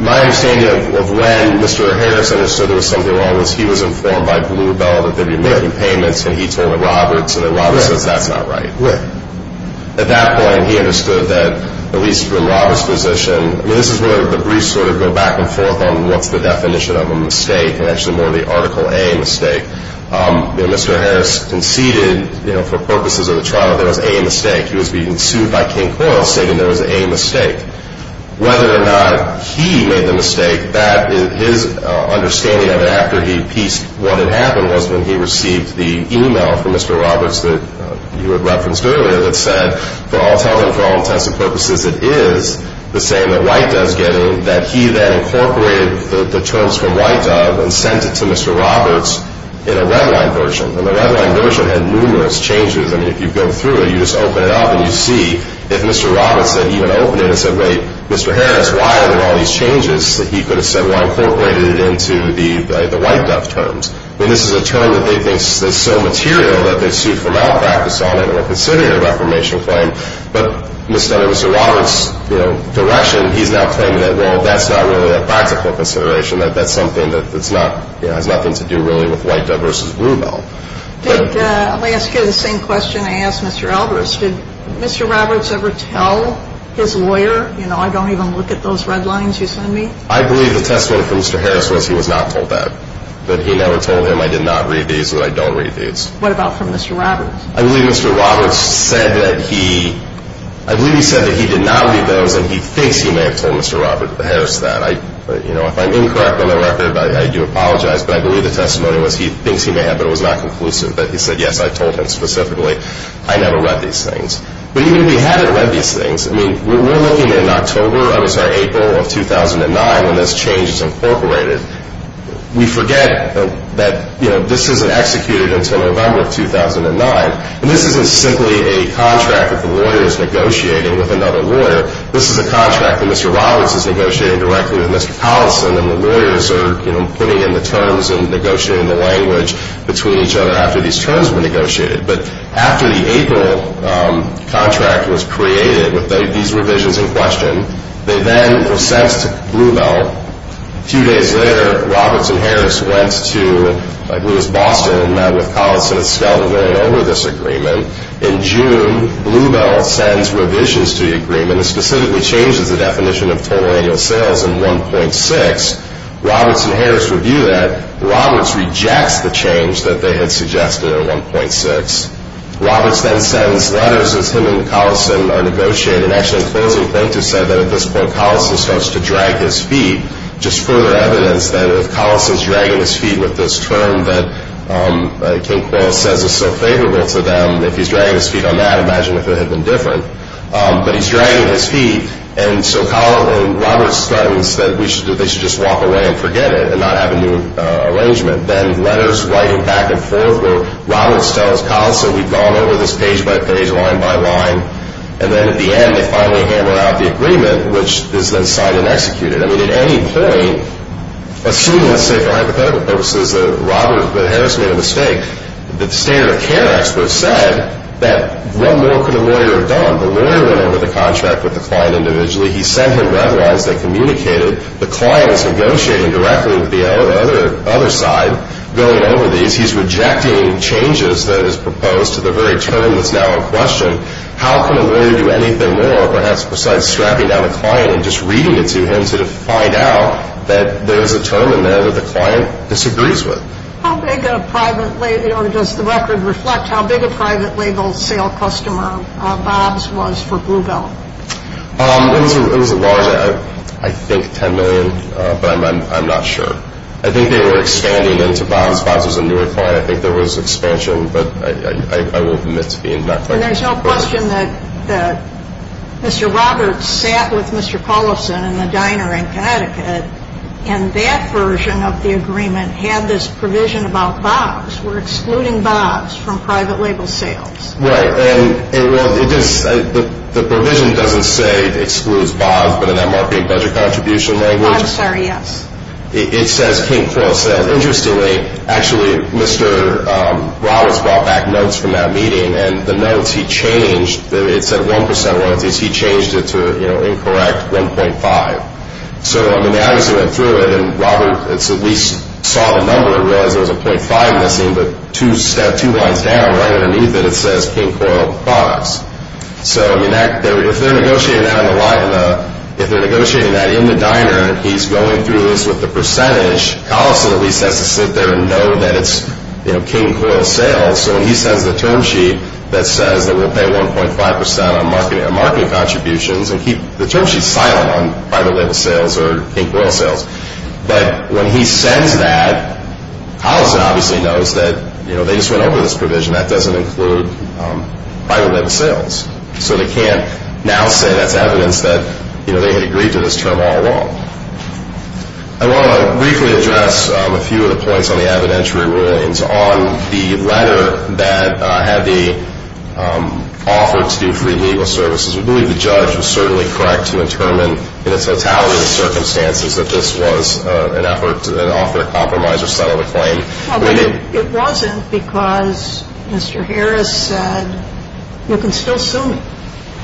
My understanding of when Mr. Harrison understood there was something wrong was he was informed by Blue Bell that they'd be making payments and he told Mr. Roberts and Mr. Roberts says that's not right. At that point he understood that, at least from Robert's position, this is where the briefs sort of go back and forth on what's the definition of a mistake and actually more of the Article A mistake. Mr. Harris conceded for purposes of the trial there was a mistake. He was being sued by King Coyle stating there was a mistake. Whether or not he made the mistake, his understanding of it after he appeased what had happened was when he received the e-mail from Mr. Roberts that you had referenced earlier that said for all intents and purposes it is the same that White does get in, that he then incorporated the terms from White of and sent it to Mr. Roberts in a redlined version. And the redlined version had numerous changes. I mean if you go through it, you just open it up and you see if Mr. Roberts said or even opened it and said, wait, Mr. Harris, why are there all these changes? He could have said, well, I incorporated it into the White Dove terms. I mean this is a term that they think is so material that they sued for malpractice on it and were considering a reformation claim. But Mr. Roberts' direction, he's now claiming that, well, that's not really a practical consideration, that that's something that has nothing to do really with White Dove v. Bluebell. I'll ask you the same question I asked Mr. Alvarez. Did Mr. Roberts ever tell his lawyer, you know, I don't even look at those redlines you send me? I believe the testimony from Mr. Harris was he was not told that. That he never told him I did not read these or that I don't read these. What about from Mr. Roberts? I believe Mr. Roberts said that he did not read those and he thinks he may have told Mr. Harris that. If I'm incorrect on the record, I do apologize. But I believe the testimony was he thinks he may have but it was not conclusive. But he said, yes, I told him specifically I never read these things. But even if he hadn't read these things, I mean, we're looking at October, I'm sorry, April of 2009 when this change is incorporated. We forget that, you know, this isn't executed until November of 2009. And this isn't simply a contract that the lawyer is negotiating with another lawyer. This is a contract that Mr. Roberts is negotiating directly with Mr. Collison and the lawyers are, you know, putting in the terms and negotiating the language between each other after these terms were negotiated. But after the April contract was created with these revisions in question, they then were sent to Bluebell. A few days later, Roberts and Harris went to, like, Lewis, Boston and met with Collison at Skelton going over this agreement. In June, Bluebell sends revisions to the agreement. And it specifically changes the definition of total annual sales in 1.6. Roberts and Harris review that. Roberts rejects the change that they had suggested in 1.6. Roberts then sends letters as him and Collison are negotiating. Actually, in closing, Plankton said that at this point Collison starts to drag his feet, just further evidence that if Collison is dragging his feet with this term that King-Coyle says is so favorable to them, if he's dragging his feet on that, imagine if it had been different. But he's dragging his feet. And so Collison and Roberts start and said they should just walk away and forget it and not have a new arrangement. Then letters writing back and forth where Roberts tells Collison, we've gone over this page by page, line by line. And then at the end, they finally hammer out the agreement, which is then signed and executed. I mean, at any point, assuming, let's say for hypothetical purposes, that Roberts and Harris made a mistake, the standard of care experts said that what more could a lawyer have done? The lawyer went over the contract with the client individually. He sent him red lines that communicated. The client is negotiating directly with the other side going over these. He's rejecting changes that is proposed to the very term that's now in question. How can a lawyer do anything more, perhaps, besides strapping down a client and just reading it to him to find out that there is a term in there that the client disagrees with? How big a private label, or does the record reflect how big a private label sale customer Bob's was for Blue Belt? It was a large, I think 10 million, but I'm not sure. I think they were expanding into Bob's. Bob's was a newer client. I think there was expansion, but I won't admit to being that close. And there's no question that Mr. Roberts sat with Mr. Collison in the diner in Connecticut and that version of the agreement had this provision about Bob's. We're excluding Bob's from private label sales. Right. And the provision doesn't say excludes Bob's, but in that marketing budget contribution language. I'm sorry, yes. It says King Crow sales. Interestingly, actually, Mr. Roberts brought back notes from that meeting, and the notes he changed. It said 1% royalties. He changed it to incorrect 1.5. So, I mean, they obviously went through it, and Robert at least saw the number and realized there was a .5 missing, but two lines down, right underneath it, it says King Coyle products. So, I mean, if they're negotiating that in the diner and he's going through this with the percentage, Collison at least has to sit there and know that it's King Coyle sales. So when he sends the term sheet that says that we'll pay 1.5% on marketing contributions, and keep the term sheet silent on private label sales or King Coyle sales, but when he sends that, Collison obviously knows that they just went over this provision. That doesn't include private label sales. So they can't now say that's evidence that they had agreed to this term all along. I want to briefly address a few of the points on the evidentiary ruins on the letter that had the offer to do free legal services. We believe the judge was certainly correct to determine in its totality of the circumstances that this was an effort to offer a compromise or settle the claim. Well, but it wasn't because Mr. Harris said you can still sue me.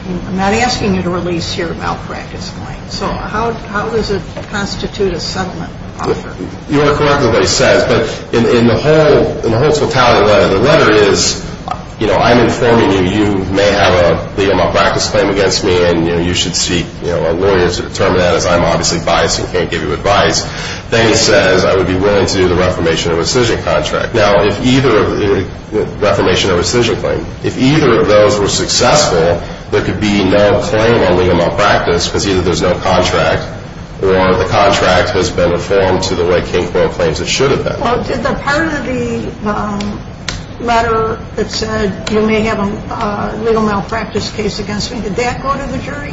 I'm not asking you to release your malpractice claim. So how does it constitute a settlement offer? You are correct in what he says, but in the whole totality of the letter, I'm informing you you may have a legal malpractice claim against me, and you should seek a lawyer to determine that, as I'm obviously biased and can't give you advice. Then he says I would be willing to do the reformation of rescission claim. If either of those were successful, there could be no claim on legal malpractice because either there's no contract or the contract has been reformed to the way King Coyle claims it should have been. Well, did the part of the letter that said you may have a legal malpractice case against me, did that go to the jury?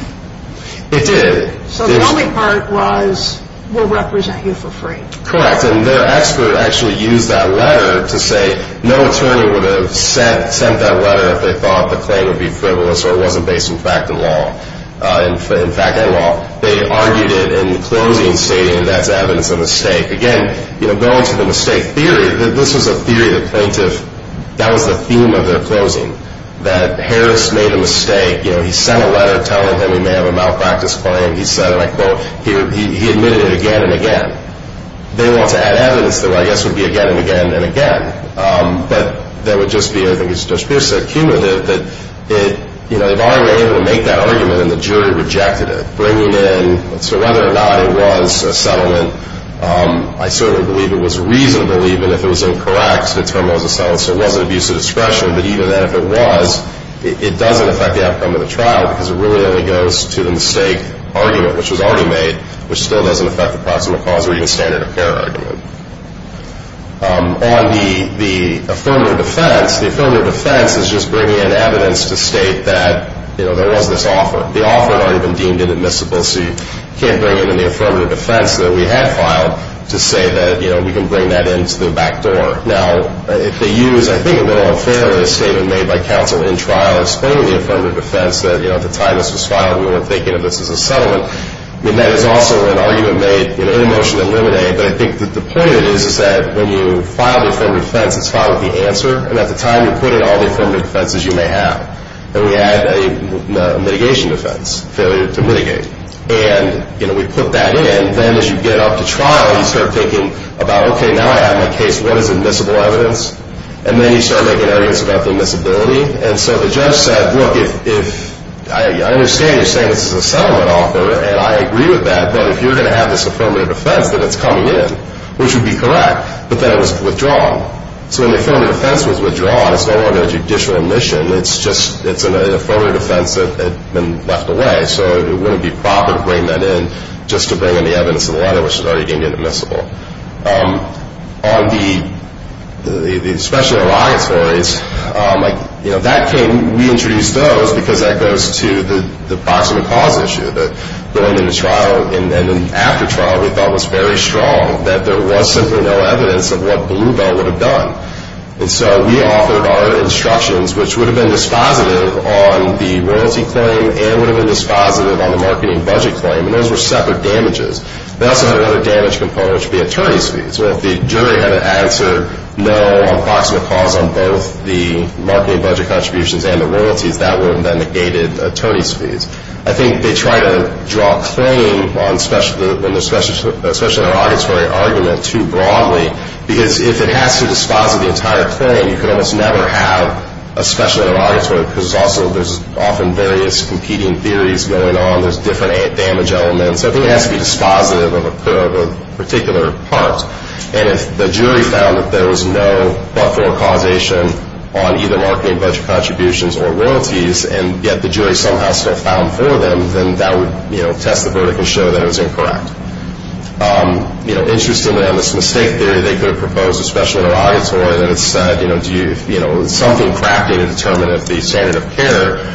It did. So the only part was we'll represent you for free. Correct. And their expert actually used that letter to say no attorney would have sent that letter if they thought the claim would be frivolous or it wasn't based in fact and law. In fact and law. They argued it in closing stating that's evidence of a mistake. Again, going to the mistake theory, this was a theory of the plaintiff. That was the theme of their closing, that Harris made a mistake. He sent a letter telling him he may have a malpractice claim. He said, and I quote, he admitted it again and again. They want to add evidence that I guess would be again and again and again. But that would just be, I think it's just a cumulative that they've already been able to make that argument, and the jury rejected it. So whether or not it was a settlement, I certainly believe it was reasonable, even if it was incorrect to determine it was a settlement. So it wasn't abuse of discretion, but even then if it was, it doesn't affect the outcome of the trial because it really only goes to the mistake argument, which was already made, which still doesn't affect the proximal cause or even standard of care argument. On the affirmative defense, the affirmative defense is just bringing in evidence to state that there was this offer. The offer had already been deemed inadmissible, so you can't bring in the affirmative defense that we had filed to say that we can bring that into the back door. Now, if they use, I think a little unfairly, a statement made by counsel in trial explaining the affirmative defense, that at the time this was filed we weren't thinking of this as a settlement, then that is also an argument made in a motion to eliminate. But I think the point is that when you file the affirmative defense, it's filed with the answer, and at the time you put in all the affirmative defenses you may have. And we had a mitigation defense, failure to mitigate. And we put that in. Then as you get up to trial, you start thinking about, okay, now I have my case, what is admissible evidence? And then you start making arguments about the admissibility. And so the judge said, look, I understand you're saying this is a settlement offer, and I agree with that, but if you're going to have this affirmative defense, then it's coming in, which would be correct. But then it was withdrawn. So when the affirmative defense was withdrawn, it's no longer a judicial admission. It's just an affirmative defense that had been left away, so it wouldn't be proper to bring that in just to bring in the evidence of the letter, which is already deemed admissible. On the special reliance stories, that came, we introduced those because that goes to the box of the cause issue, that going into trial and then after trial we thought was very strong, that there was simply no evidence of what Bluebell would have done. And so we offered our instructions, which would have been dispositive on the royalty claim and would have been dispositive on the marketing budget claim, and those were separate damages. They also had another damage component, which would be attorney's fees. Well, if the jury had an answer no on the box of the cause on both the marketing budget contributions and the royalties, that would have then negated attorney's fees. I think they try to draw a claim on the special auditory argument too broadly, because if it has to dispositive the entire claim, you can almost never have a special auditory because also there's often various competing theories going on. There's different damage elements. I think it has to be dispositive of a particular part, and if the jury found that there was no but-for causation on either marketing budget contributions or royalties and yet the jury somehow still filed for them, then that would test the verdict and show that it was incorrect. Interestingly, on this mistake theory, they could have proposed a special auditory, and it said, you know, something cracked in it to determine if the standard of care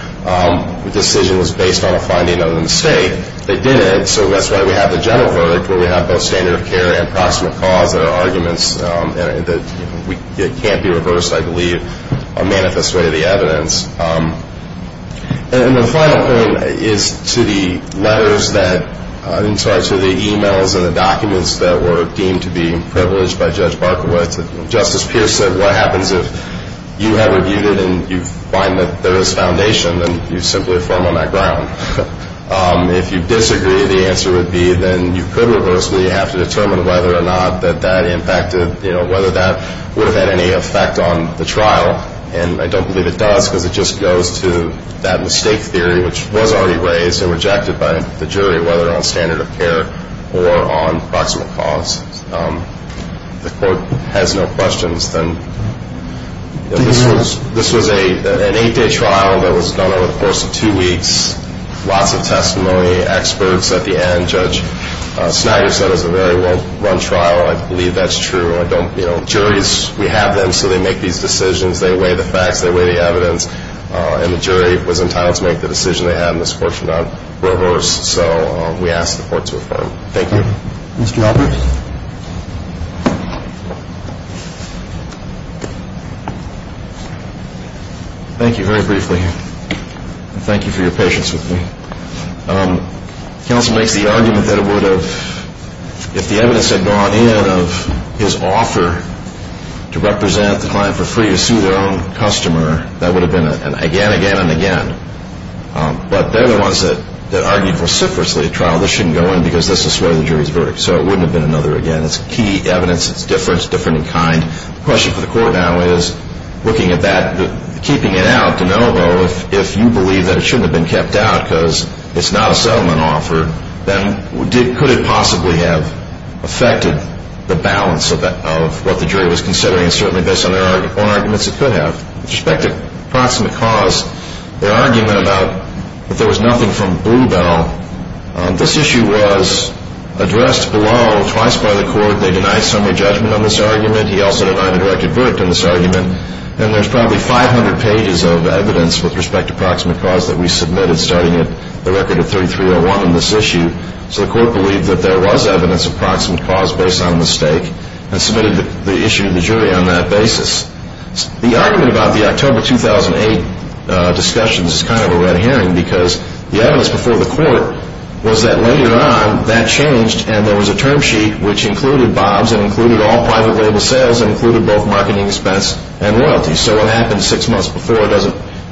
decision was based on a finding of the mistake. They didn't, so that's why we have the general verdict, where we have both standard of care and approximate cause that are arguments that can't be reversed, I believe, a manifest way of the evidence. And the final point is to the letters that, I'm sorry, to the e-mails and the documents that were deemed to be privileged by Judge Barkowitz. Justice Pierce said, what happens if you have reviewed it and you find that there is foundation? Then you simply affirm on that ground. If you disagree, the answer would be then you could reverse, but you have to determine whether or not that that impacted, you know, whether that would have had any effect on the trial, and I don't believe it does because it just goes to that mistake theory, which was already raised and rejected by the jury, whether on standard of care or on approximate cause. If the court has no questions, then this was an eight-day trial that was done over the course of two weeks. Lots of testimony, experts at the end. Judge Snyder said it was a very well-run trial. I believe that's true. Juries, we have them, so they make these decisions. They weigh the facts. They weigh the evidence, and the jury was entitled to make the decision they had, and this court should not reverse. So we ask the court to affirm. Thank you. Mr. Albrecht? Thank you very briefly, and thank you for your patience with me. Counsel makes the argument that it would have, if the evidence had gone in of his offer to represent the client for free to sue their own customer, that would have been again, again, and again. But they're the ones that argued vociferously at trial, this shouldn't go in because this is to swear the jury's verdict, so it wouldn't have been another again. It's key evidence. It's different. It's different in kind. The question for the court now is, looking at that, keeping it out, if you believe that it shouldn't have been kept out because it's not a settlement offer, then could it possibly have affected the balance of what the jury was considering, and certainly based on their own arguments, it could have. With respect to proximate cause, their argument about if there was nothing from Bluebell, this issue was addressed below twice by the court. They denied summary judgment on this argument. He also denied a direct advert to this argument, and there's probably 500 pages of evidence with respect to proximate cause that we submitted, starting at the record of 3301 in this issue. So the court believed that there was evidence of proximate cause based on mistake and submitted the issue to the jury on that basis. The argument about the October 2008 discussions is kind of a red herring because the evidence before the court was that later on that changed and there was a term sheet which included Bob's and included all private label sales and included both marketing expense and royalties. So what happened six months before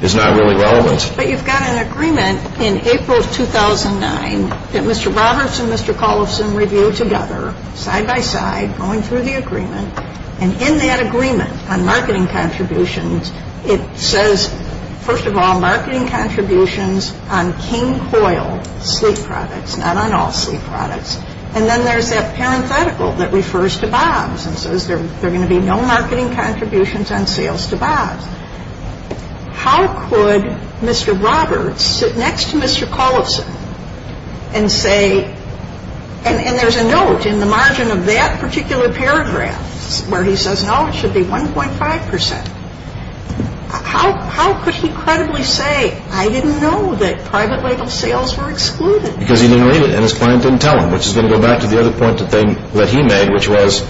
is not really relevant. But you've got an agreement in April 2009 that Mr. Roberts and Mr. Collison reviewed together, side by side, going through the agreement, and in that agreement on marketing contributions, it says, first of all, marketing contributions on King Coil sleep products, not on all sleep products, and then there's that parenthetical that refers to Bob's and says there are going to be no marketing contributions on sales to Bob's. How could Mr. Roberts sit next to Mr. Collison and say, and there's a note in the margin of that particular paragraph where he says, no, it should be 1.5 percent. How could he credibly say, I didn't know that private label sales were excluded? Because he didn't read it and his client didn't tell him, which is going to go back to the other point that he made, which was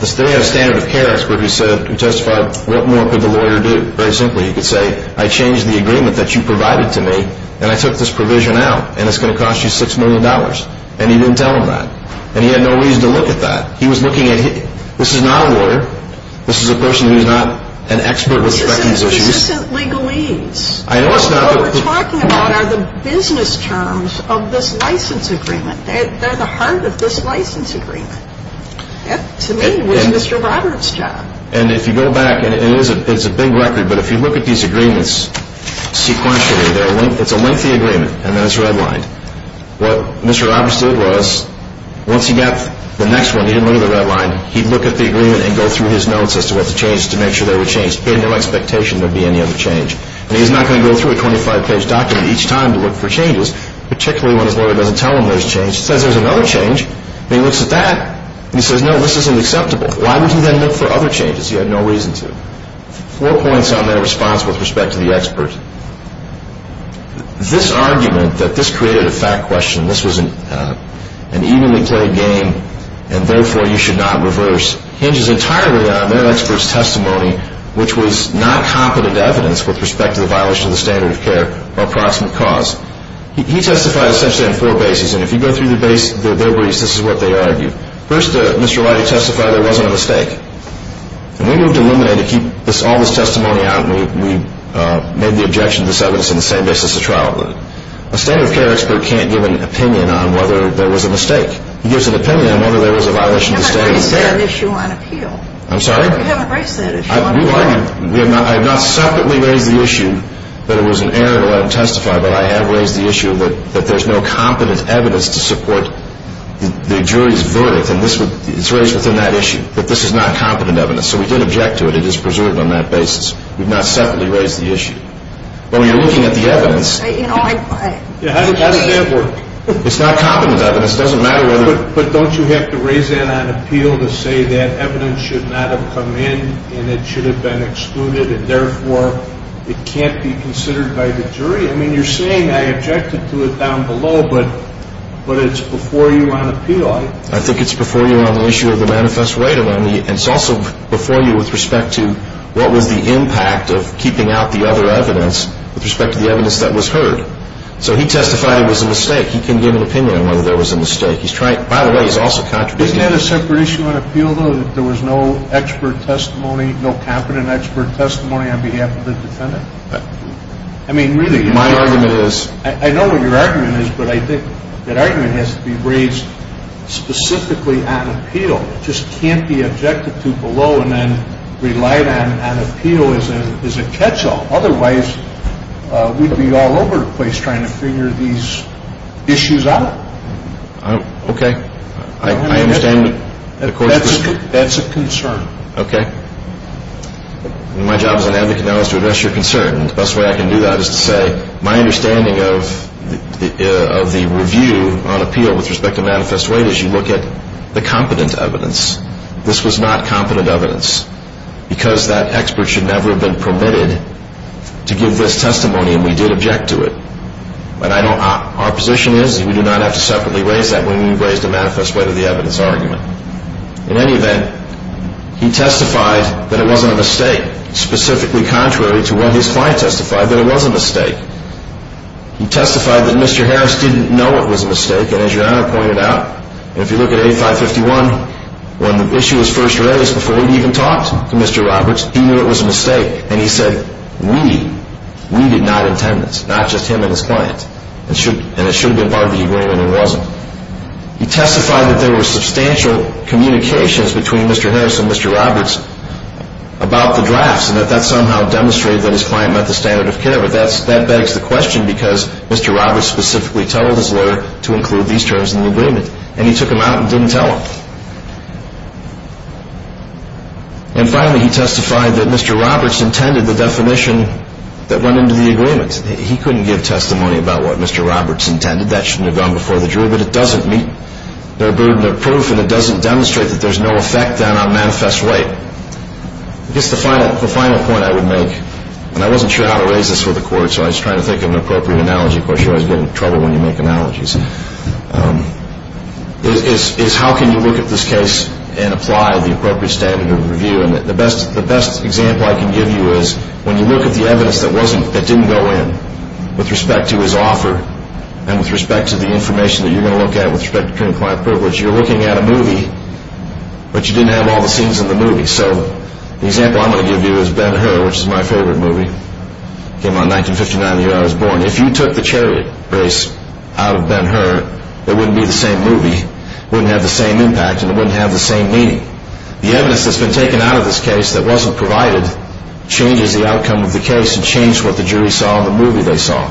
the standard of care expert who testified, what more could the lawyer do? Very simply, he could say, I changed the agreement that you provided to me and I took this provision out and it's going to cost you $6 million. And he didn't tell him that. And he had no reason to look at that. He was looking at, this is not a lawyer. This is a person who's not an expert with respect to these issues. This isn't legalese. What we're talking about are the business terms of this license agreement. They're the heart of this license agreement. That, to me, was Mr. Roberts' job. And if you go back, and it's a big record, but if you look at these agreements sequentially, it's a lengthy agreement and then it's redlined. What Mr. Roberts did was, once he got the next one, he didn't look at the redline, he'd look at the agreement and go through his notes as to what to change to make sure they were changed. He had no expectation there'd be any other change. And he's not going to go through a 25-page document each time to look for changes, particularly when his lawyer doesn't tell him there's change. He says, there's another change. And he looks at that and he says, no, this isn't acceptable. Why would he then look for other changes? He had no reason to. Four points on that response with respect to the expert. This argument that this created a fact question, this was an evenly played game and therefore you should not reverse, hinges entirely on their expert's testimony, which was not competent evidence with respect to the violation of the standard of care or approximate cause. He testified essentially on four bases, and if you go through their briefs, this is what they argued. First, Mr. Leidy testified there wasn't a mistake. And we moved to eliminate it to keep all this testimony out and we made the objection to this evidence in the same basis of trial. A standard of care expert can't give an opinion on whether there was a mistake. He gives an opinion on whether there was a violation of the standard of care. You haven't raised that issue on appeal. I'm sorry? You haven't raised that issue on appeal. I have not separately raised the issue that it was an error to let him testify, but I have raised the issue that there's no competent evidence to support the jury's verdict, and it's raised within that issue, that this is not competent evidence. So we did object to it. It is preserved on that basis. We've not separately raised the issue. But when you're looking at the evidence. How does that work? It's not competent evidence. But don't you have to raise that on appeal to say that evidence should not have come in and it should have been excluded and, therefore, it can't be considered by the jury? I mean, you're saying I objected to it down below, but it's before you on appeal. I think it's before you on the issue of the manifest right, and it's also before you with respect to what was the impact of keeping out the other evidence with respect to the evidence that was heard. So he testified it was a mistake. He couldn't give an opinion on whether there was a mistake. By the way, he's also contributing. Isn't that a separate issue on appeal, though, that there was no expert testimony, no competent expert testimony on behalf of the defendant? I mean, really. My argument is. I know what your argument is, but I think that argument has to be raised specifically on appeal. It just can't be objected to below and then relied on on appeal as a catch-all. Otherwise, we'd be all over the place trying to figure these issues out. Okay. I understand. That's a concern. Okay. My job as an advocate now is to address your concern, and the best way I can do that is to say my understanding of the review on appeal with respect to manifest right is you look at the competent evidence. This was not competent evidence because that expert should never have been permitted to give this testimony, and we did object to it. But our position is we do not have to separately raise that when we've raised a manifest right of the evidence argument. In any event, he testified that it wasn't a mistake, specifically contrary to what his client testified, that it was a mistake. He testified that Mr. Harris didn't know it was a mistake, and as your Honor pointed out, if you look at A551, when the issue was first raised before he even talked to Mr. Roberts, he knew it was a mistake, and he said we did not intend this, not just him and his client, and it should have been part of the agreement, and it wasn't. He testified that there were substantial communications between Mr. Harris and Mr. Roberts about the drafts and that that somehow demonstrated that his client met the standard of care, but that begs the question because Mr. Roberts specifically told his lawyer to include these terms in the agreement, and he took them out and didn't tell him. And finally, he testified that Mr. Roberts intended the definition that went into the agreement. He couldn't give testimony about what Mr. Roberts intended. That shouldn't have gone before the jury, but it doesn't meet their burden of proof, and it doesn't demonstrate that there's no effect on our manifest right. I guess the final point I would make, and I wasn't sure how to raise this with the Court, so I was trying to think of an appropriate analogy. Of course, you always get in trouble when you make analogies. It's how can you look at this case and apply the appropriate standard of review, and the best example I can give you is when you look at the evidence that didn't go in with respect to his offer and with respect to the information that you're going to look at with respect to criminal client privilege, you're looking at a movie, but you didn't have all the scenes in the movie. So the example I'm going to give you is Ben-Hur, which is my favorite movie. It came out in 1959, the year I was born. If you took The Chariot Race out of Ben-Hur, it wouldn't be the same movie. It wouldn't have the same impact, and it wouldn't have the same meaning. The evidence that's been taken out of this case that wasn't provided changes the outcome of the case and changed what the jury saw in the movie they saw.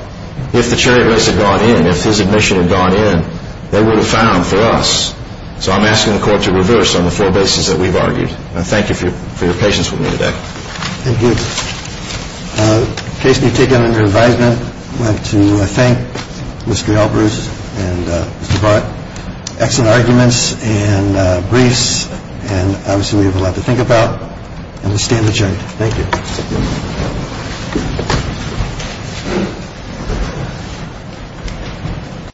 If The Chariot Race had gone in, if his admission had gone in, they would have found for us. So I'm asking the Court to reverse on the four bases that we've argued. I thank you for your patience with me today. Thank you. In case you've taken under advisement, I want to thank Mr. Albrus and Mr. Barrett. Excellent arguments and briefs, and obviously we have a lot to think about. And we stand adjourned. Thank you.